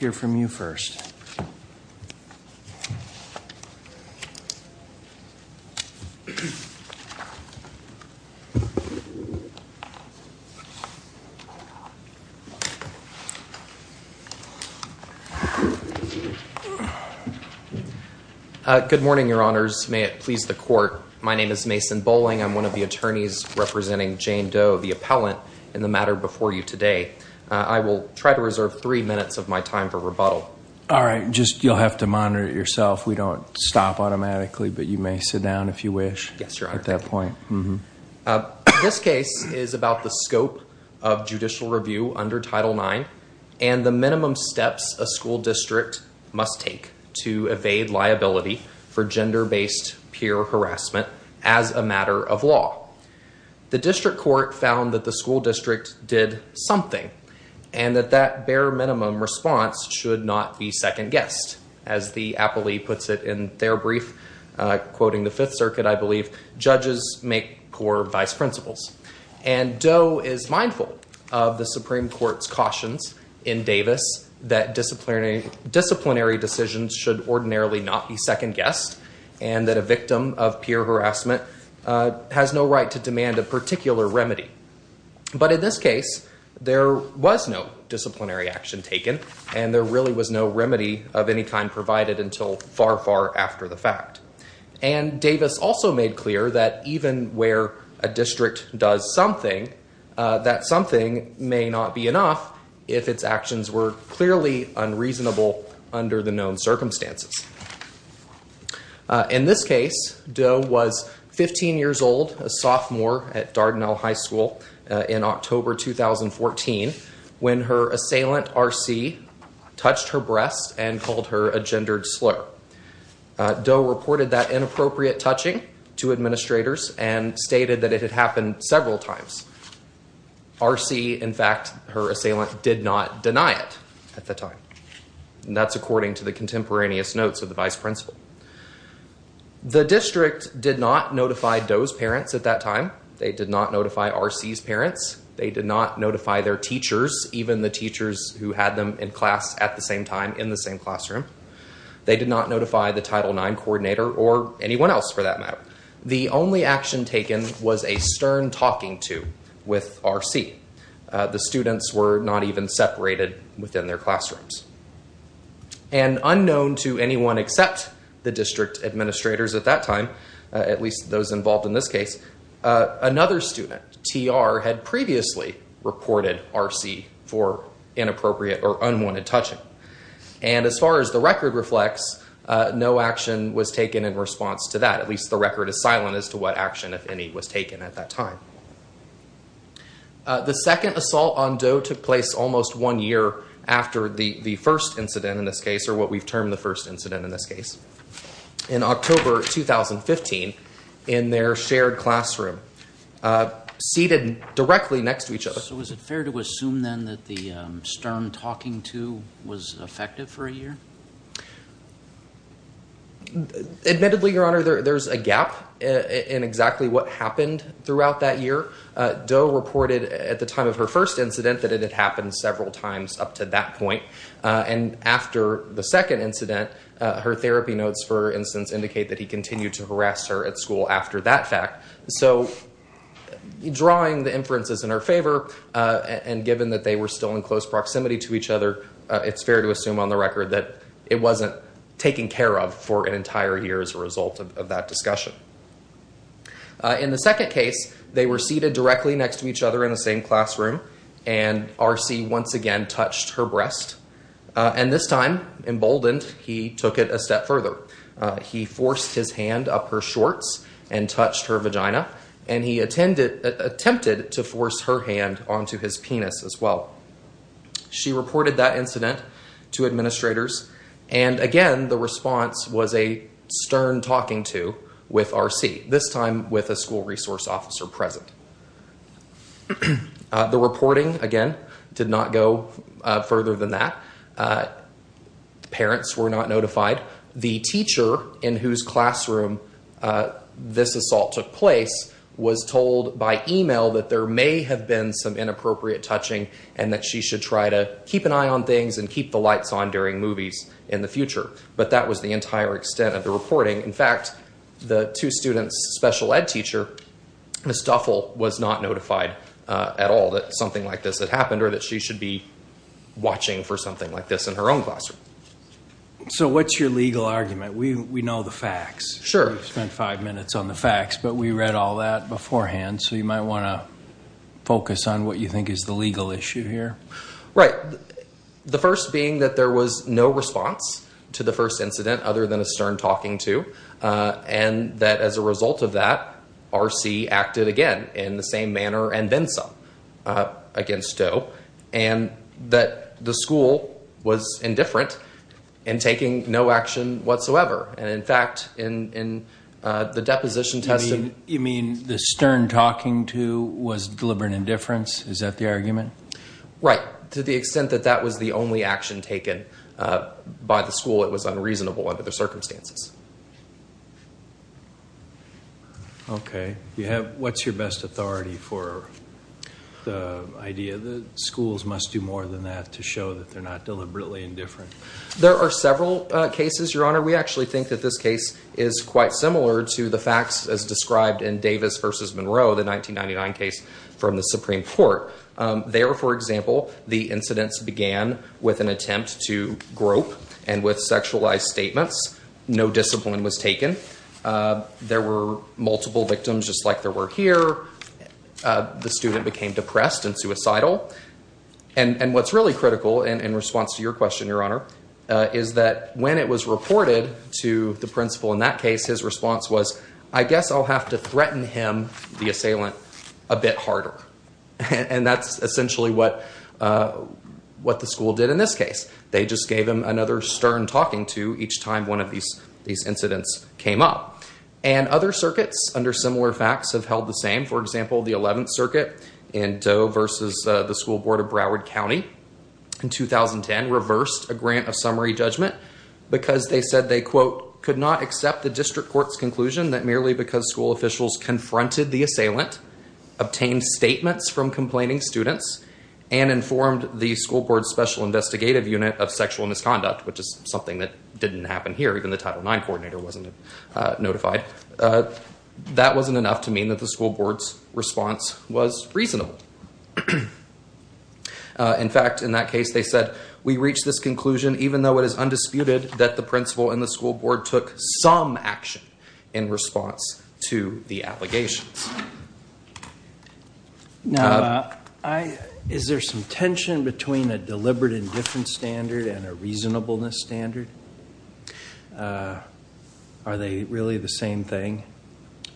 May it please the Court, my name is Mason Bolling, I'm one of the attorneys representing Jane Doe, the appellant in the matter before you today. I will try to reserve three minutes of my time for rebuttal. This case is about the scope of judicial review under Title IX and the minimum steps a school district must take to evade liability for gender-based peer harassment as a matter of law. The district court found that the school district did something and that that bare minimum response should not be second-guessed. As the appellee puts it in their brief, quoting the Fifth Circuit, I believe, judges make core vice principles. Doe is mindful of the Supreme Court's cautions in Davis that disciplinary decisions should ordinarily not be second-guessed and that a victim of peer harassment has no right to demand a disciplinary action. There was no disciplinary action taken and there really was no remedy of any kind provided until far, far after the fact. And Davis also made clear that even where a district does something, that something may not be enough if its actions were clearly unreasonable under the known circumstances. In this case, Doe was 15 years old, a sophomore at Dardanelle High in October 2014 when her assailant R.C. touched her breast and called her a gendered slur. Doe reported that inappropriate touching to administrators and stated that it had happened several times. R.C., in fact, her assailant, did not deny it at the time. That's according to the contemporaneous notes of the vice principal. The district did not notify Doe's parents at that time. They did not notify R.C.'s parents. They did not notify their teachers, even the teachers who had them in class at the same time in the same classroom. They did not notify the Title IX coordinator or anyone else for that matter. The only action taken was a stern talking to with R.C. The students were not even separated within their classrooms. Unknown to anyone except the district administrators at that time, at least those involved in this case, another student, T.R., had previously reported R.C. for inappropriate or unwanted touching. As far as the record reflects, no action was taken in response to that. At least the record is silent as to what action, if any, was taken at that time. The second assault on Doe took place almost one year after the first incident in this case, or what we've termed the first incident in this case, in October 2015 in their shared classroom, seated directly next to each other. So was it fair to assume then that the stern talking to was effective for a year? Admittedly, Your Honor, there's a gap in exactly what happened throughout that year. Doe reported at the time of her first incident that it had happened several times up to that point. And after the second incident, her therapy notes, for instance, indicate that he continued to harass her at school after that fact. So drawing the inferences in her favor, and given that they were still in close proximity to each other, it's fair to assume on the record that Doe wasn't taken care of for an entire year as a result of that discussion. In the second case, they were seated directly next to each other in the same classroom, and R.C. once again touched her breast. And this time, emboldened, he took it a step further. He forced his hand up her shorts and touched her vagina, and he attempted to force her hand onto his penis as well. She reported that incident to administrators. And again, the response was a stern talking to with R.C., this time with a school resource officer present. The reporting, again, did not go further than that. Parents were not notified. The teacher in whose classroom this assault took place was told by email that there may have been some inappropriate touching and that she should try to keep an eye on things and keep the lights on during movies in the future. But that was the entire extent of the reporting. In fact, the two students' special ed teacher, Ms. Duffell, was not notified at all that something like this had happened or that she should be watching for something like this in her own classroom. So what's your legal argument? We know the facts. Sure. We've spent five minutes on the facts, but we read all that beforehand, so you might want to what you think is the legal issue here. Right. The first being that there was no response to the first incident other than a stern talking to, and that as a result of that, R.C. acted again in the same manner and then some against Doe, and that the school was indifferent in taking no action whatsoever. And in fact, in the deposition testing... Deliberate indifference. Is that the argument? Right. To the extent that that was the only action taken by the school, it was unreasonable under the circumstances. Okay. What's your best authority for the idea that schools must do more than that to show that they're not deliberately indifferent? There are several cases, Your Honor. We actually think that this case is quite similar to the facts as described in Davis v. Monroe, the 1999 case from the Supreme Court. There, for example, the incidents began with an attempt to grope and with sexualized statements. No discipline was taken. There were multiple victims just like there were here. The student became depressed and suicidal. And what's really critical in response to your question, Your Honor, is that when it was reported to the principal in that case, his response was, I guess I'll have to threaten him, the assailant, a bit harder. And that's essentially what the school did in this case. They just gave him another stern talking to each time one of these incidents came up. And other circuits under similar facts have held the same. For example, the 11th Circuit in Doe v. the School Board of Broward County in 2010 reversed a grant of summary judgment because they said they, quote, the district court's conclusion that merely because school officials confronted the assailant, obtained statements from complaining students, and informed the school board's special investigative unit of sexual misconduct, which is something that didn't happen here. Even the Title IX coordinator wasn't notified. That wasn't enough to mean that the school board's response was reasonable. In fact, in that case, they said, we reached this conclusion even though it is undisputed that the principal and the school board took some action in response to the allegations. Now, is there some tension between a deliberate indifference standard and a reasonableness standard? Are they really the same thing?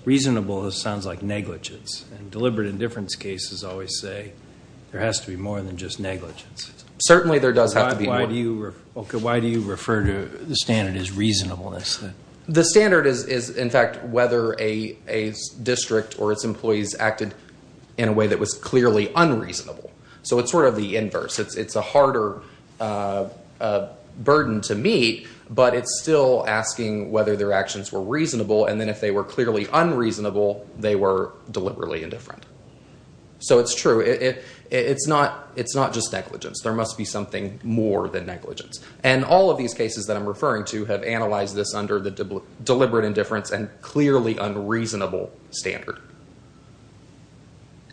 Reasonable sounds like negligence, and deliberate indifference cases always say there has to be more than just negligence. Certainly there does have to be more. Okay, why do you refer to the standard as reasonableness? The standard is, in fact, whether a district or its employees acted in a way that was clearly unreasonable. So it's sort of the inverse. It's a harder burden to meet, but it's still asking whether their actions were reasonable, and then if they were clearly unreasonable, they were deliberately indifferent. So it's true. It's not just negligence. There must be something more than negligence. And all of these cases that I'm referring to have analyzed this under the deliberate indifference and clearly unreasonable standard.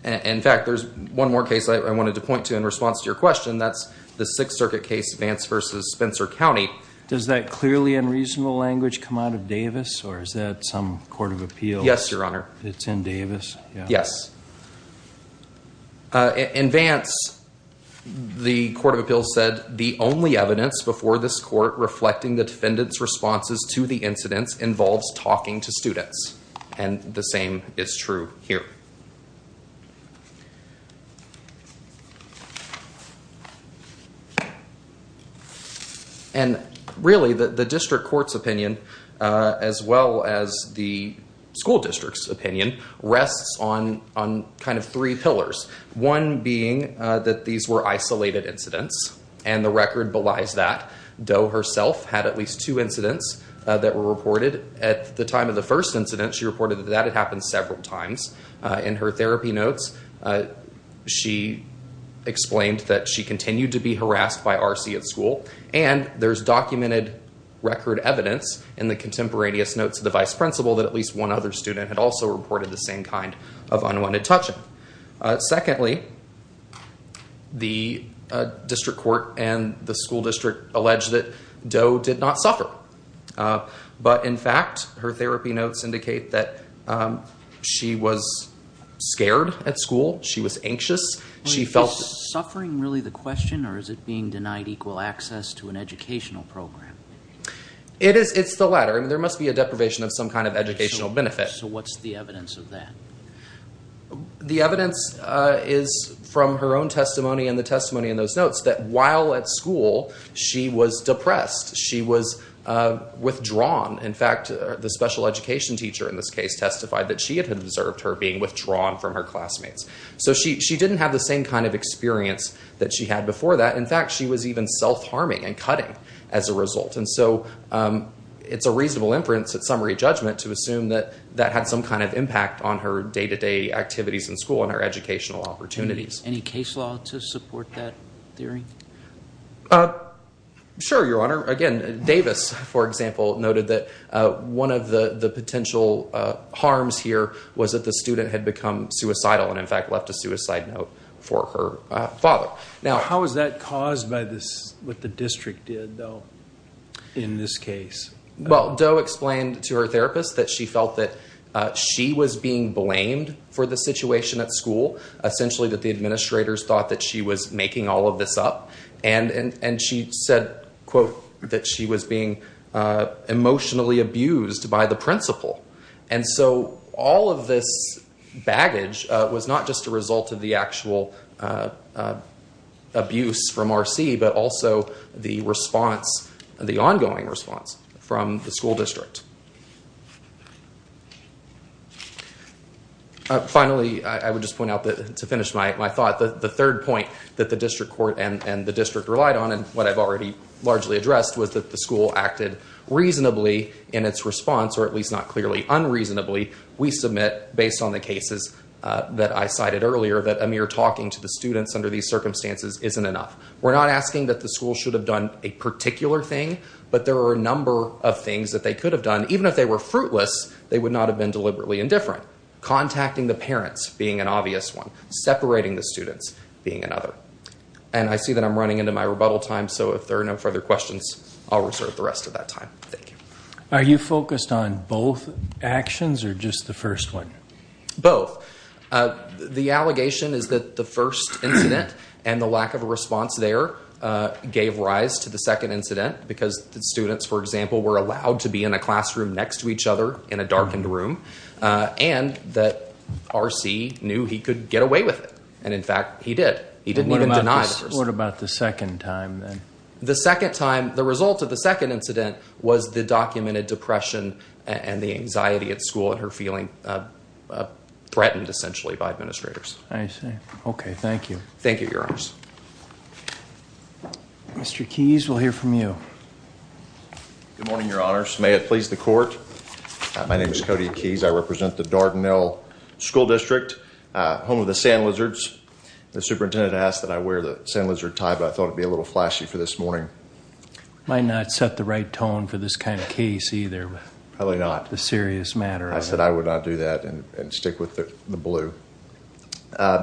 In fact, there's one more case I wanted to point to in response to your question. That's the Sixth Circuit case, Vance v. Spencer County. Does that clearly unreasonable language come out of Davis, or is that some court of appeals? Yes, Your Honor. It's in Davis? Yes. In Vance, the court of appeals said, the only evidence before this court reflecting the defendant's responses to the incidents involves talking to students. And the same is true here. And really, the district court's opinion, as well as the school district's opinion, rests on kind of three pillars. One being that these were isolated incidents, and the record belies that. Doe herself had at least two incidents that were reported. At the time of the first incident, she reported that that had happened several times. In her therapy notes, she explained that she continued to be harassed by RC at school. And there's documented record evidence in the contemporaneous notes of the vice principal that at least one other student also reported the same kind of unwanted touching. Secondly, the district court and the school district allege that Doe did not suffer. But in fact, her therapy notes indicate that she was scared at school. She was anxious. Is suffering really the question, or is it being denied equal access to an educational program? It's the latter. There must be a deprivation of some kind of educational benefit. So what's the evidence of that? The evidence is from her own testimony and the testimony in those notes that while at school, she was depressed. She was withdrawn. In fact, the special education teacher in this case testified that she had observed her being withdrawn from her classmates. So she didn't have the same kind of experience that she had before that. In fact, she was even self-harming and cutting as a result. And so it's a reasonable inference at summary judgment to assume that that had some kind of impact on her day-to-day activities in school and her educational opportunities. Any case law to support that theory? Sure, Your Honor. Again, Davis, for example, noted that one of the potential harms here was that the student had become suicidal and in fact left a suicide note for her father. How was that caused by what the district did, though, in this case? Doe explained to her therapist that she felt that she was being blamed for the situation at school, essentially that the administrators thought that she was making all of this up. And she said, that she was being emotionally abused by the principal. And so all of this baggage was not just a result of the actual abuse from RC, but also the response, the ongoing response from the school district. Finally, I would just point out to finish my thought, the third point that the district court and the district relied on, and what I've already largely addressed, was that the school acted reasonably in its response, or at least not clearly unreasonably. We submit, based on the cases that I cited earlier, that a mere talking to the students under these circumstances isn't enough. We're not asking that the school should have done a particular thing, but there are a number of things that they could have done. Even if they were fruitless, they would not have been deliberately indifferent. Contacting the parents being an obvious one, separating the students being another. And I see that I'm running into my rebuttal time, so if there are no further questions, I'll reserve the rest of that time. Thank you. Are you focused on both actions, or just the first one? Both. The allegation is that the first incident and the lack of a response there gave rise to the second incident, because the students, for example, were allowed to be in a classroom next to each other in a darkened room, and that RC knew he could get away with it. And in fact, he did. He didn't even deny the first. What about the second time, then? The second time, the result of the second incident was the documented depression and the anxiety at school, and her feeling threatened, essentially, by administrators. I see. Okay, thank you. Thank you, Your Honors. Mr. Keyes, we'll hear from you. Good morning, Your Honors. May it please the Court. My name is Cody Keyes. I represent the Dardanelle School District, home of the Sand Lizards. The superintendent asked that I wear sand lizard tie, but I thought it would be a little flashy for this morning. Might not set the right tone for this kind of case, either. Probably not. The serious matter. I said I would not do that and stick with the blue.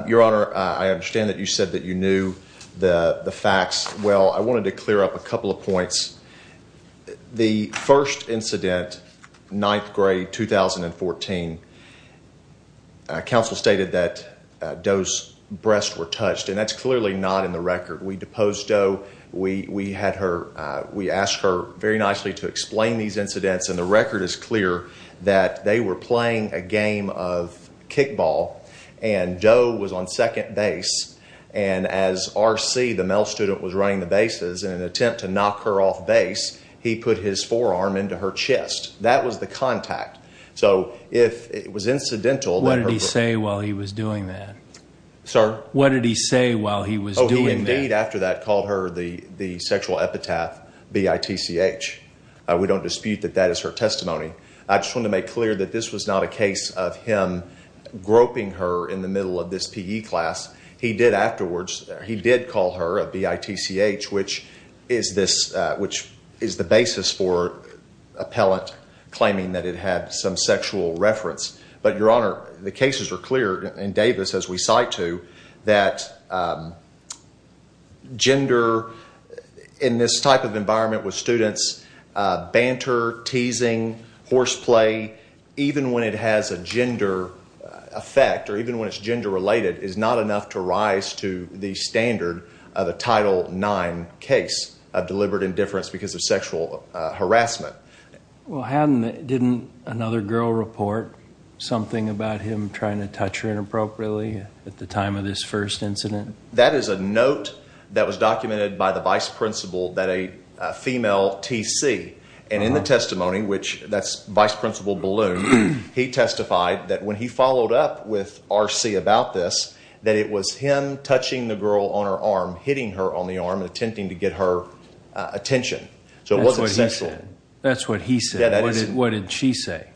Your Honor, I understand that you said that you knew the facts. Well, I wanted to clear up a couple of points. The first incident, ninth grade, 2014, a counsel stated that Doe's breasts were touched, and that's clearly not in the record. We deposed Doe. We asked her very nicely to explain these incidents, and the record is clear that they were playing a game of kickball, and Doe was on second base. And as R.C., the middle student, was running the bases, in an attempt to knock her off base, he put his forearm into her chest. That was the contact. So if it was incidental... What did he say while he was doing that? Sir? What did he say while he was doing that? He, indeed, after that, called her the sexual epitaph B-I-T-C-H. We don't dispute that that is her testimony. I just want to make clear that this was not a case of him groping her in the middle of this P.E. class. He did afterwards, he did call her a B-I-T-C-H, which is the basis for appellant claiming that it had some sexual reference. But, Your Honor, the cases are clear in Davis, as we cite to, that gender in this type of environment with students, banter, teasing, horseplay, even when it has a gender effect, or even when it's gender-related, is not enough to rise to the standard of a Title IX case of deliberate indifference because of sexual harassment. Well, hadn't, didn't another girl report something about him trying to touch her inappropriately at the time of this first incident? That is a note that was documented by the vice principal that a female T.C., and in the testimony, which that's Vice Principal Balloon, he testified that when he followed up R.C. about this, that it was him touching the girl on her arm, hitting her on the arm, attempting to get her attention. So it wasn't sexual. That's what he said. What did she say?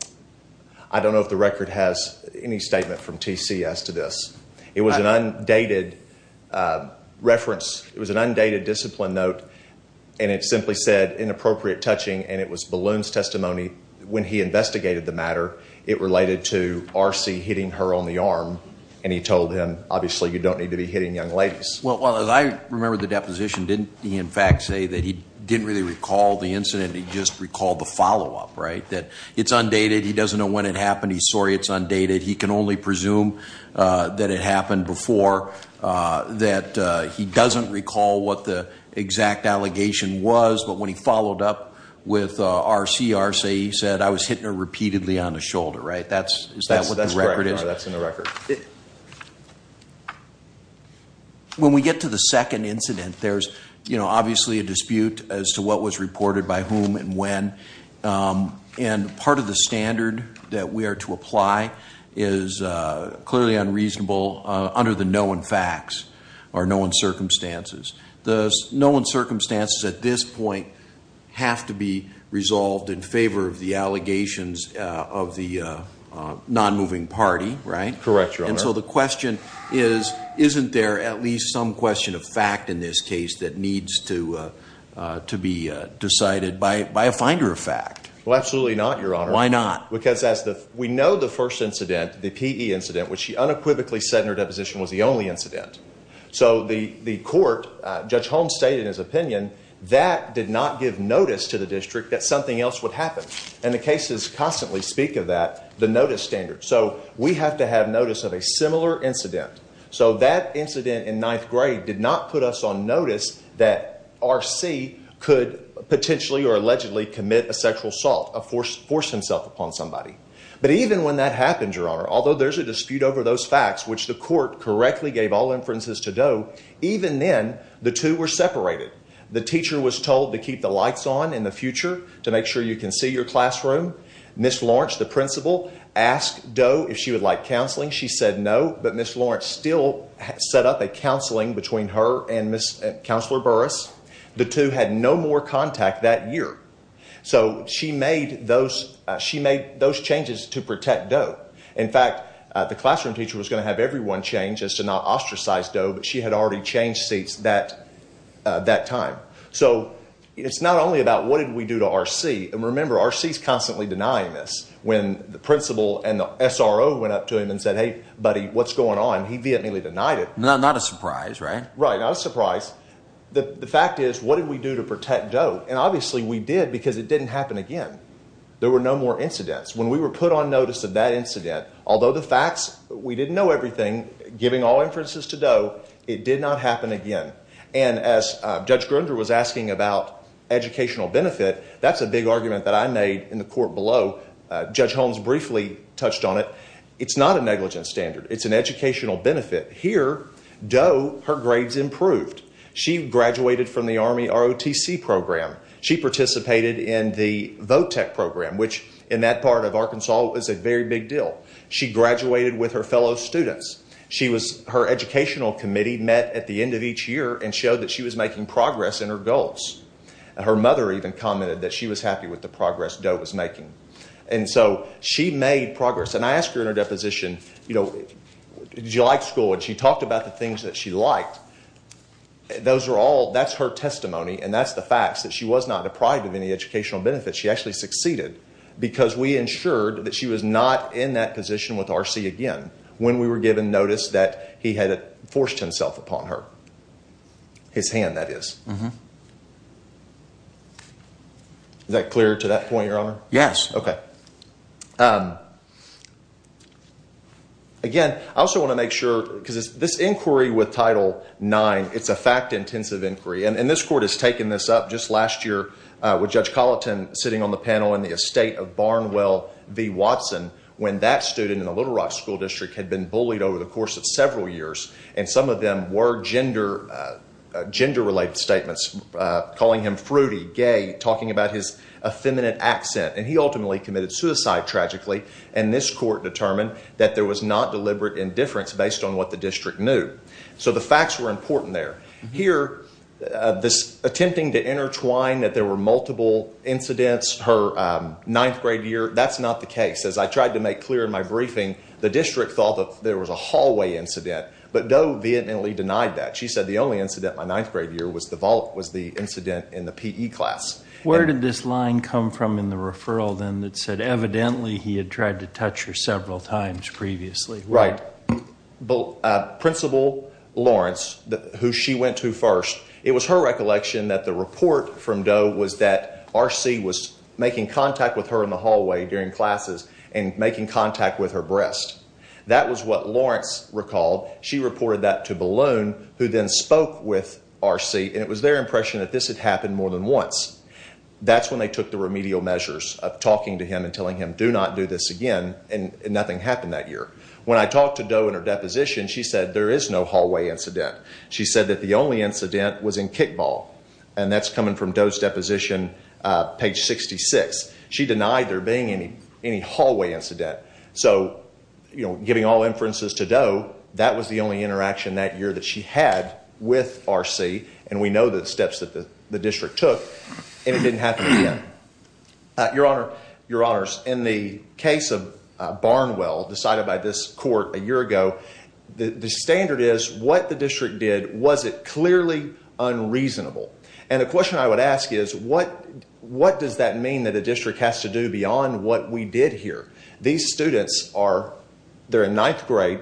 I don't know if the record has any statement from T.C. as to this. It was an undated reference, it was an undated discipline note, and it simply said inappropriate touching, and it was Balloon's testimony when he investigated the matter, it related to R.C. hitting her on the arm, and he told him, obviously, you don't need to be hitting young ladies. Well, as I remember the deposition, didn't he, in fact, say that he didn't really recall the incident, he just recalled the follow-up, right? That it's undated, he doesn't know when it happened, he's sorry it's undated, he can only presume that it happened before, that he doesn't recall what the exact allegation was, but when he followed up with R.C., R.C. said, I was hitting her repeatedly on the shoulder, right? Is that what the record is? That's correct. That's in the record. When we get to the second incident, there's obviously a dispute as to what was reported by whom and when, and part of the standard that we are to apply is clearly unreasonable under the circumstances. The known circumstances at this point have to be resolved in favor of the allegations of the non-moving party, right? Correct, Your Honor. And so the question is, isn't there at least some question of fact in this case that needs to be decided by a finder of fact? Well, absolutely not, Your Honor. Why not? Because as we know the first incident, the P.E. incident, which she unequivocally said was the only incident. So the court, Judge Holmes stated in his opinion, that did not give notice to the district that something else would happen. And the cases constantly speak of that, the notice standard. So we have to have notice of a similar incident. So that incident in ninth grade did not put us on notice that R.C. could potentially or allegedly commit a sexual assault, a force himself upon somebody. But even when that happens, Your Honor, although there's a dispute over those facts, which the court correctly gave all inferences to Doe, even then the two were separated. The teacher was told to keep the lights on in the future to make sure you can see your classroom. Ms. Lawrence, the principal, asked Doe if she would like counseling. She said no. But Ms. Lawrence still set up a counseling between her and Ms. Counselor Burrus. The two had no more contact that year. So she made those changes to protect Doe. In fact, the classroom teacher was going to have everyone change as to not ostracize Doe, but she had already changed seats that time. So it's not only about what did we do to R.C. And remember, R.C. is constantly denying this. When the principal and the SRO went up to him and said, hey, buddy, what's going on? He vehemently denied it. Not a surprise, right? Right, not a surprise. The fact is, what did we do to protect Doe? And obviously we did because it didn't happen again. There were no more incidents. When we were put on notice of that incident, although the facts, we didn't know everything, giving all inferences to Doe, it did not happen again. And as Judge Grunder was asking about educational benefit, that's a big argument that I made in the court below. Judge Holmes briefly touched on it. It's not a negligence standard. It's an educational benefit. Here, Doe, her grades improved. She graduated from the Army ROTC program. She participated in the VOTEC program, which in that part of Arkansas was a very big deal. She graduated with her fellow students. She was, her educational committee met at the end of each year and showed that she was making progress in her goals. Her mother even commented that she was happy with the progress Doe was making. And so she made progress. And I asked her in her deposition, you know, did you like school? And she talked about the things that she liked. And those are all, that's her testimony. And that's the facts that she was not deprived of any educational benefits. She actually succeeded because we ensured that she was not in that position with RC again when we were given notice that he had forced himself upon her. His hand, that is. Is that clear to that point, Your Honor? Yes. Okay. Again, I also want to make sure, because this inquiry with Title IX, it's a fact-intensive inquiry, and this Court has taken this up just last year with Judge Colleton sitting on the panel in the estate of Barnwell v. Watson when that student in the Little Rock School District had been bullied over the course of several years. And some of them were gender-related statements, calling him fruity, gay, talking about his effeminate accent. And he ultimately committed suicide, tragically. And this Court determined that there was not deliberate indifference based on what the district knew. So the facts were important there. Here, this attempting to intertwine that there were multiple incidents per ninth-grade year, that's not the case. As I tried to make clear in my briefing, the district thought that there was a hallway incident. But Doe vehemently denied that. She said the only incident my ninth-grade year was the incident in the PE class. Where did this line come from in the referral then that said evidently he had tried to touch her several times previously? Right. Principal Lawrence, who she went to first, it was her recollection that the report from Doe was that R.C. was making contact with her in the hallway during classes and making contact with her breast. That was what Lawrence recalled. She reported that to Balloon, who then spoke with R.C. And it was their impression that this had happened more than once. That's when they took the remedial measures of talking to him and telling him, do not do this again. And nothing happened that year. When I talked to Doe in her deposition, she said there is no hallway incident. She said that the only incident was in kickball. And that's coming from Doe's deposition, page 66. She denied there being any hallway incident. So, you know, giving all inferences to Doe, that was the only interaction that year that she had with R.C. And we know the steps that the district took. And it didn't happen again. Your Honor, in the case of Barnwell, decided by this court a year ago, the standard is what the district did, was it clearly unreasonable? And the question I would ask is, what does that mean that a district has to do beyond what we did here? These students are in ninth grade.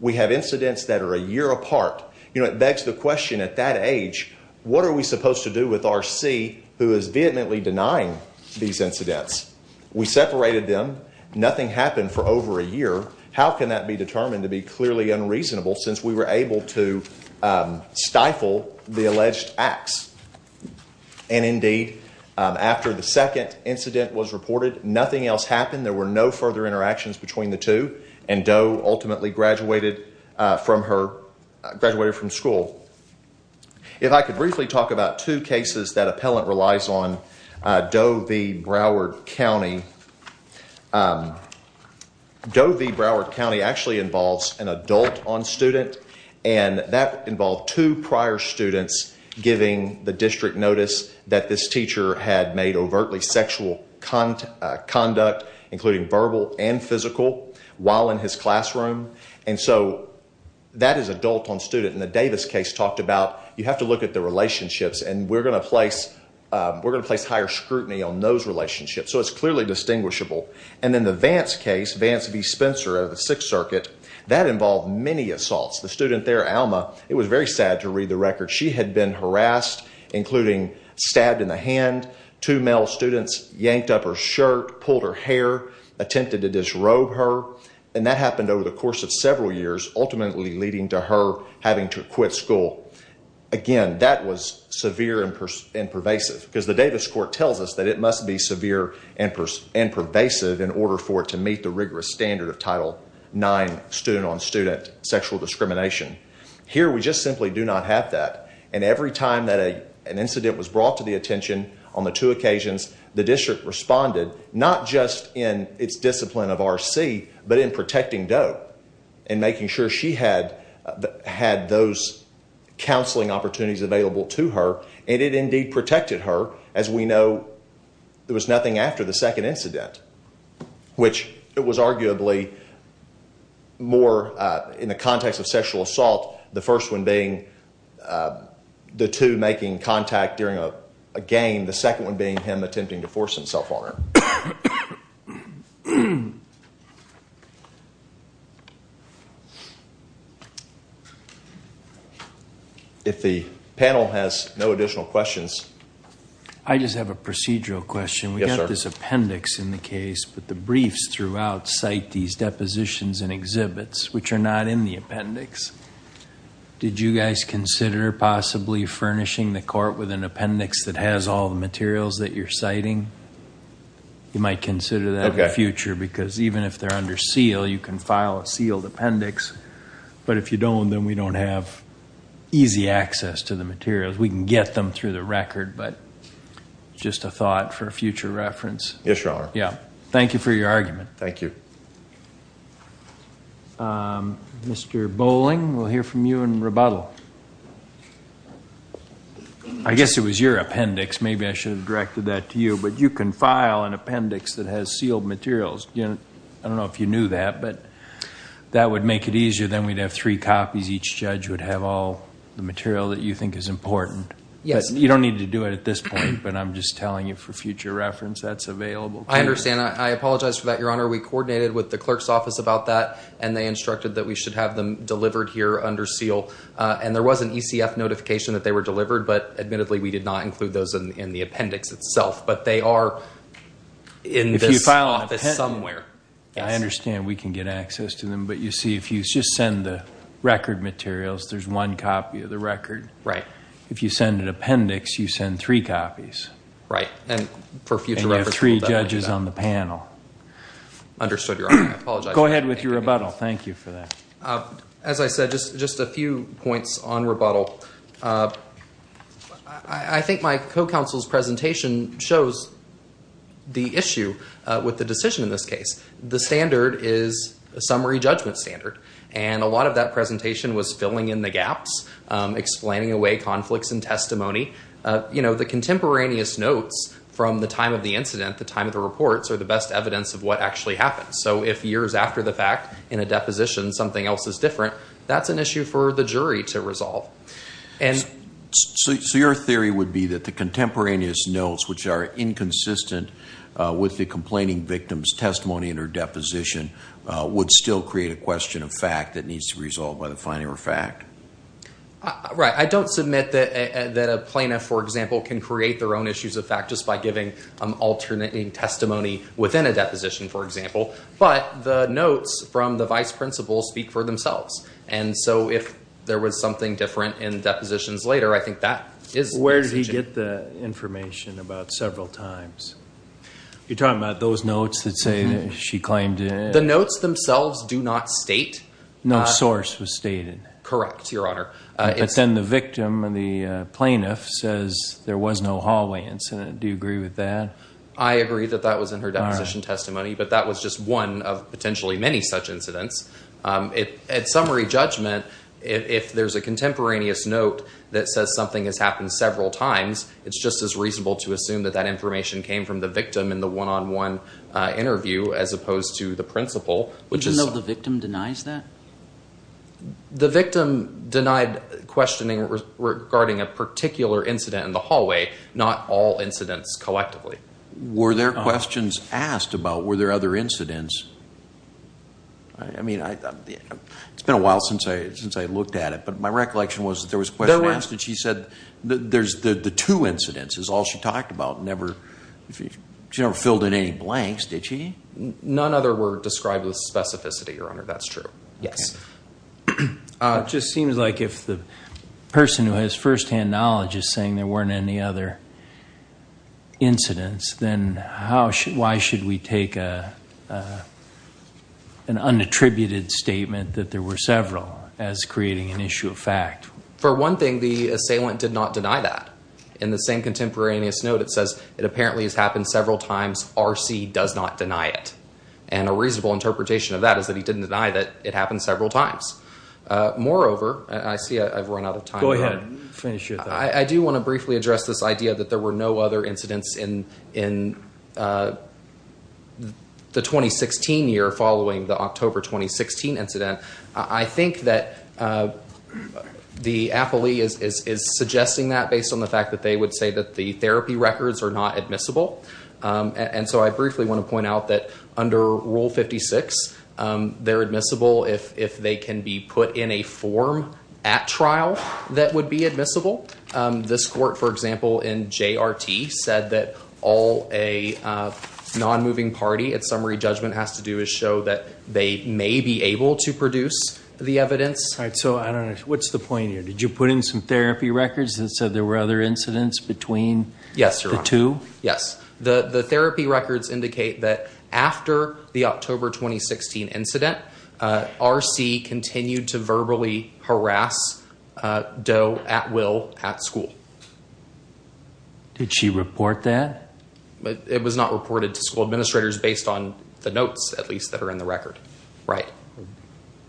We have incidents that are a year apart. You know, it begs the question at that age, what are we supposed to do with R.C. who is vehemently denying these incidents? We separated them. Nothing happened for over a year. How can that be determined to be clearly unreasonable since we were able to stifle the alleged acts? And indeed, after the second incident was reported, nothing else happened. There were no further interactions between the two. And Doe ultimately graduated from school. If I could briefly talk about two cases that appellant relies on, Doe v. Broward County. Doe v. Broward County actually involves an adult on student. And that involved two prior students giving the district notice that this teacher had made overtly sexual conduct, including verbal and physical, while in his classroom. And so that is adult on student. And the Davis case talked about, you have to look at the relationships. And we're going to place higher scrutiny on those relationships. So it's clearly distinguishable. And then the Vance case, Vance v. Spencer of the Sixth Circuit, that involved many assaults. The student there, Alma, it was very sad to read the record. She had been harassed, including stabbed in the hand. Two male students yanked up her shirt, pulled her hair, attempted to disrobe her. And that happened over the course of several years, ultimately leading to her having to quit school. Again, that was severe and pervasive. Because the Davis court tells us that it must be severe and pervasive in order for it to meet the rigorous standard of Title IX, student on student sexual discrimination. Here, we just simply do not have that. And every time that an incident was brought to the attention on the two occasions, the district responded, not just in its discipline of RC, but in protecting Doe and making sure she had those counseling opportunities available to her. And it indeed protected her, as we know there was nothing after the second incident, which it was arguably more in the context of sexual assault, the first one being the two making contact during a game, the second one being him attempting to force himself on her. If the panel has no additional questions. I just have a procedural question. This appendix in the case, but the briefs throughout cite these depositions and exhibits, which are not in the appendix. Did you guys consider possibly furnishing the court with an appendix that has all the materials that you're citing? You might consider that in the future, because even if they're under seal, you can file a sealed appendix. But if you don't, then we don't have easy access to the materials. We can get them through the record, but just a thought for a future reference. Yes, Your Honor. Yeah. Thank you for your argument. Thank you. Mr. Bowling, we'll hear from you in rebuttal. I guess it was your appendix. Maybe I should have directed that to you. But you can file an appendix that has sealed materials. I don't know if you knew that, but that would make it easier. Then we'd have three copies. Each judge would have all the material that you think is important. Yes. You don't need to do it at this point. But I'm just telling you for future reference, that's available. I understand. I apologize for that, Your Honor. We coordinated with the clerk's office about that, and they instructed that we should have them delivered here under seal. There was an ECF notification that they were delivered, but admittedly, we did not include those in the appendix itself. But they are in this office somewhere. I understand we can get access to them. If you just send the record materials, there's one copy of the record. If you send an appendix, you send three copies. And you have three judges on the panel. Understood, Your Honor. I apologize. Go ahead with your rebuttal. Thank you for that. As I said, just a few points on rebuttal. I think my co-counsel's presentation shows the issue with the decision in this case. The standard is a summary judgment standard, and a lot of that presentation was filling in the gaps, explaining away conflicts in testimony. The contemporaneous notes from the time of the incident, the time of the reports, are the best evidence of what actually happened. So if years after the fact, in a deposition, something else is different, that's an issue for the jury to resolve. So your theory would be that the contemporaneous notes, which are in a deposition, would still create a question of fact that needs to be resolved by the finding of a fact? Right. I don't submit that a plaintiff, for example, can create their own issues of fact just by giving alternating testimony within a deposition, for example. But the notes from the vice principal speak for themselves. And so if there was something different in depositions later, I think that is the decision. Where did he get the information about several times? You're talking about those notes that say she claimed it? The notes themselves do not state. No source was stated. Correct, Your Honor. But then the victim, the plaintiff, says there was no hallway incident. Do you agree with that? I agree that that was in her deposition testimony. But that was just one of potentially many such incidents. At summary judgment, if there's a contemporaneous note that says something has happened several times, it's just as reasonable to assume that that information came from the victim in the one-on-one interview as opposed to the principal, which is... Do you know if the victim denies that? The victim denied questioning regarding a particular incident in the hallway, not all incidents collectively. Were there questions asked about were there other incidents? I mean, it's been a while since I looked at it. But my recollection was that there was a question asked and she said the two incidents is all she talked about. She never filled in any blanks, did she? None other were described with specificity, Your Honor. That's true. Yes. Just seems like if the person who has firsthand knowledge is saying there weren't any other incidents, then why should we take an unattributed statement that there were several as creating an issue of fact? For one thing, the assailant did not deny that. In the same contemporaneous note, it says it apparently has happened several times, R.C. does not deny it. And a reasonable interpretation of that is that he didn't deny that it happened several times. Moreover, I see I've run out of time. Go ahead. Finish your thought. I do want to briefly address this idea that there were no other incidents in the 2016 year following the October 2016 incident. I think that the appellee is suggesting that based on the fact that they would say that the therapy records are not admissible. And so I briefly want to point out that under Rule 56, they're admissible if they can be put in a form at trial that would be admissible. This court, for example, in JRT said that all a non-moving party at summary judgment has to do is show that they may be able to produce the evidence. All right. So I don't know. What's the point here? Did you put in some therapy records that said there were other incidents between the two? Yes. The therapy records indicate that after the October 2016 incident, R.C. continued to verbally harass Doe at will at school. Did she report that? It was not reported to school administrators based on the notes, at least, that are in the record.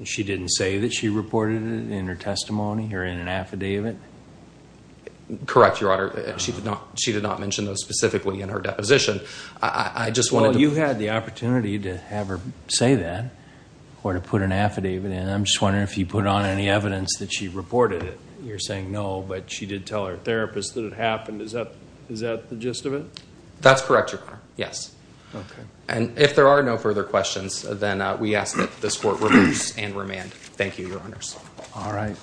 She didn't say that she reported it in her testimony or in an affidavit? Correct, Your Honor. She did not mention those specifically in her deposition. You had the opportunity to have her say that or to put an affidavit in. I'm just wondering if you put on any evidence that she reported it. You're saying no, but she did tell her therapist that it happened. Is that the gist of it? That's correct, Your Honor. Yes. And if there are no further questions, then we ask that this court reverse and remand. Thank you, Your Honors. All right.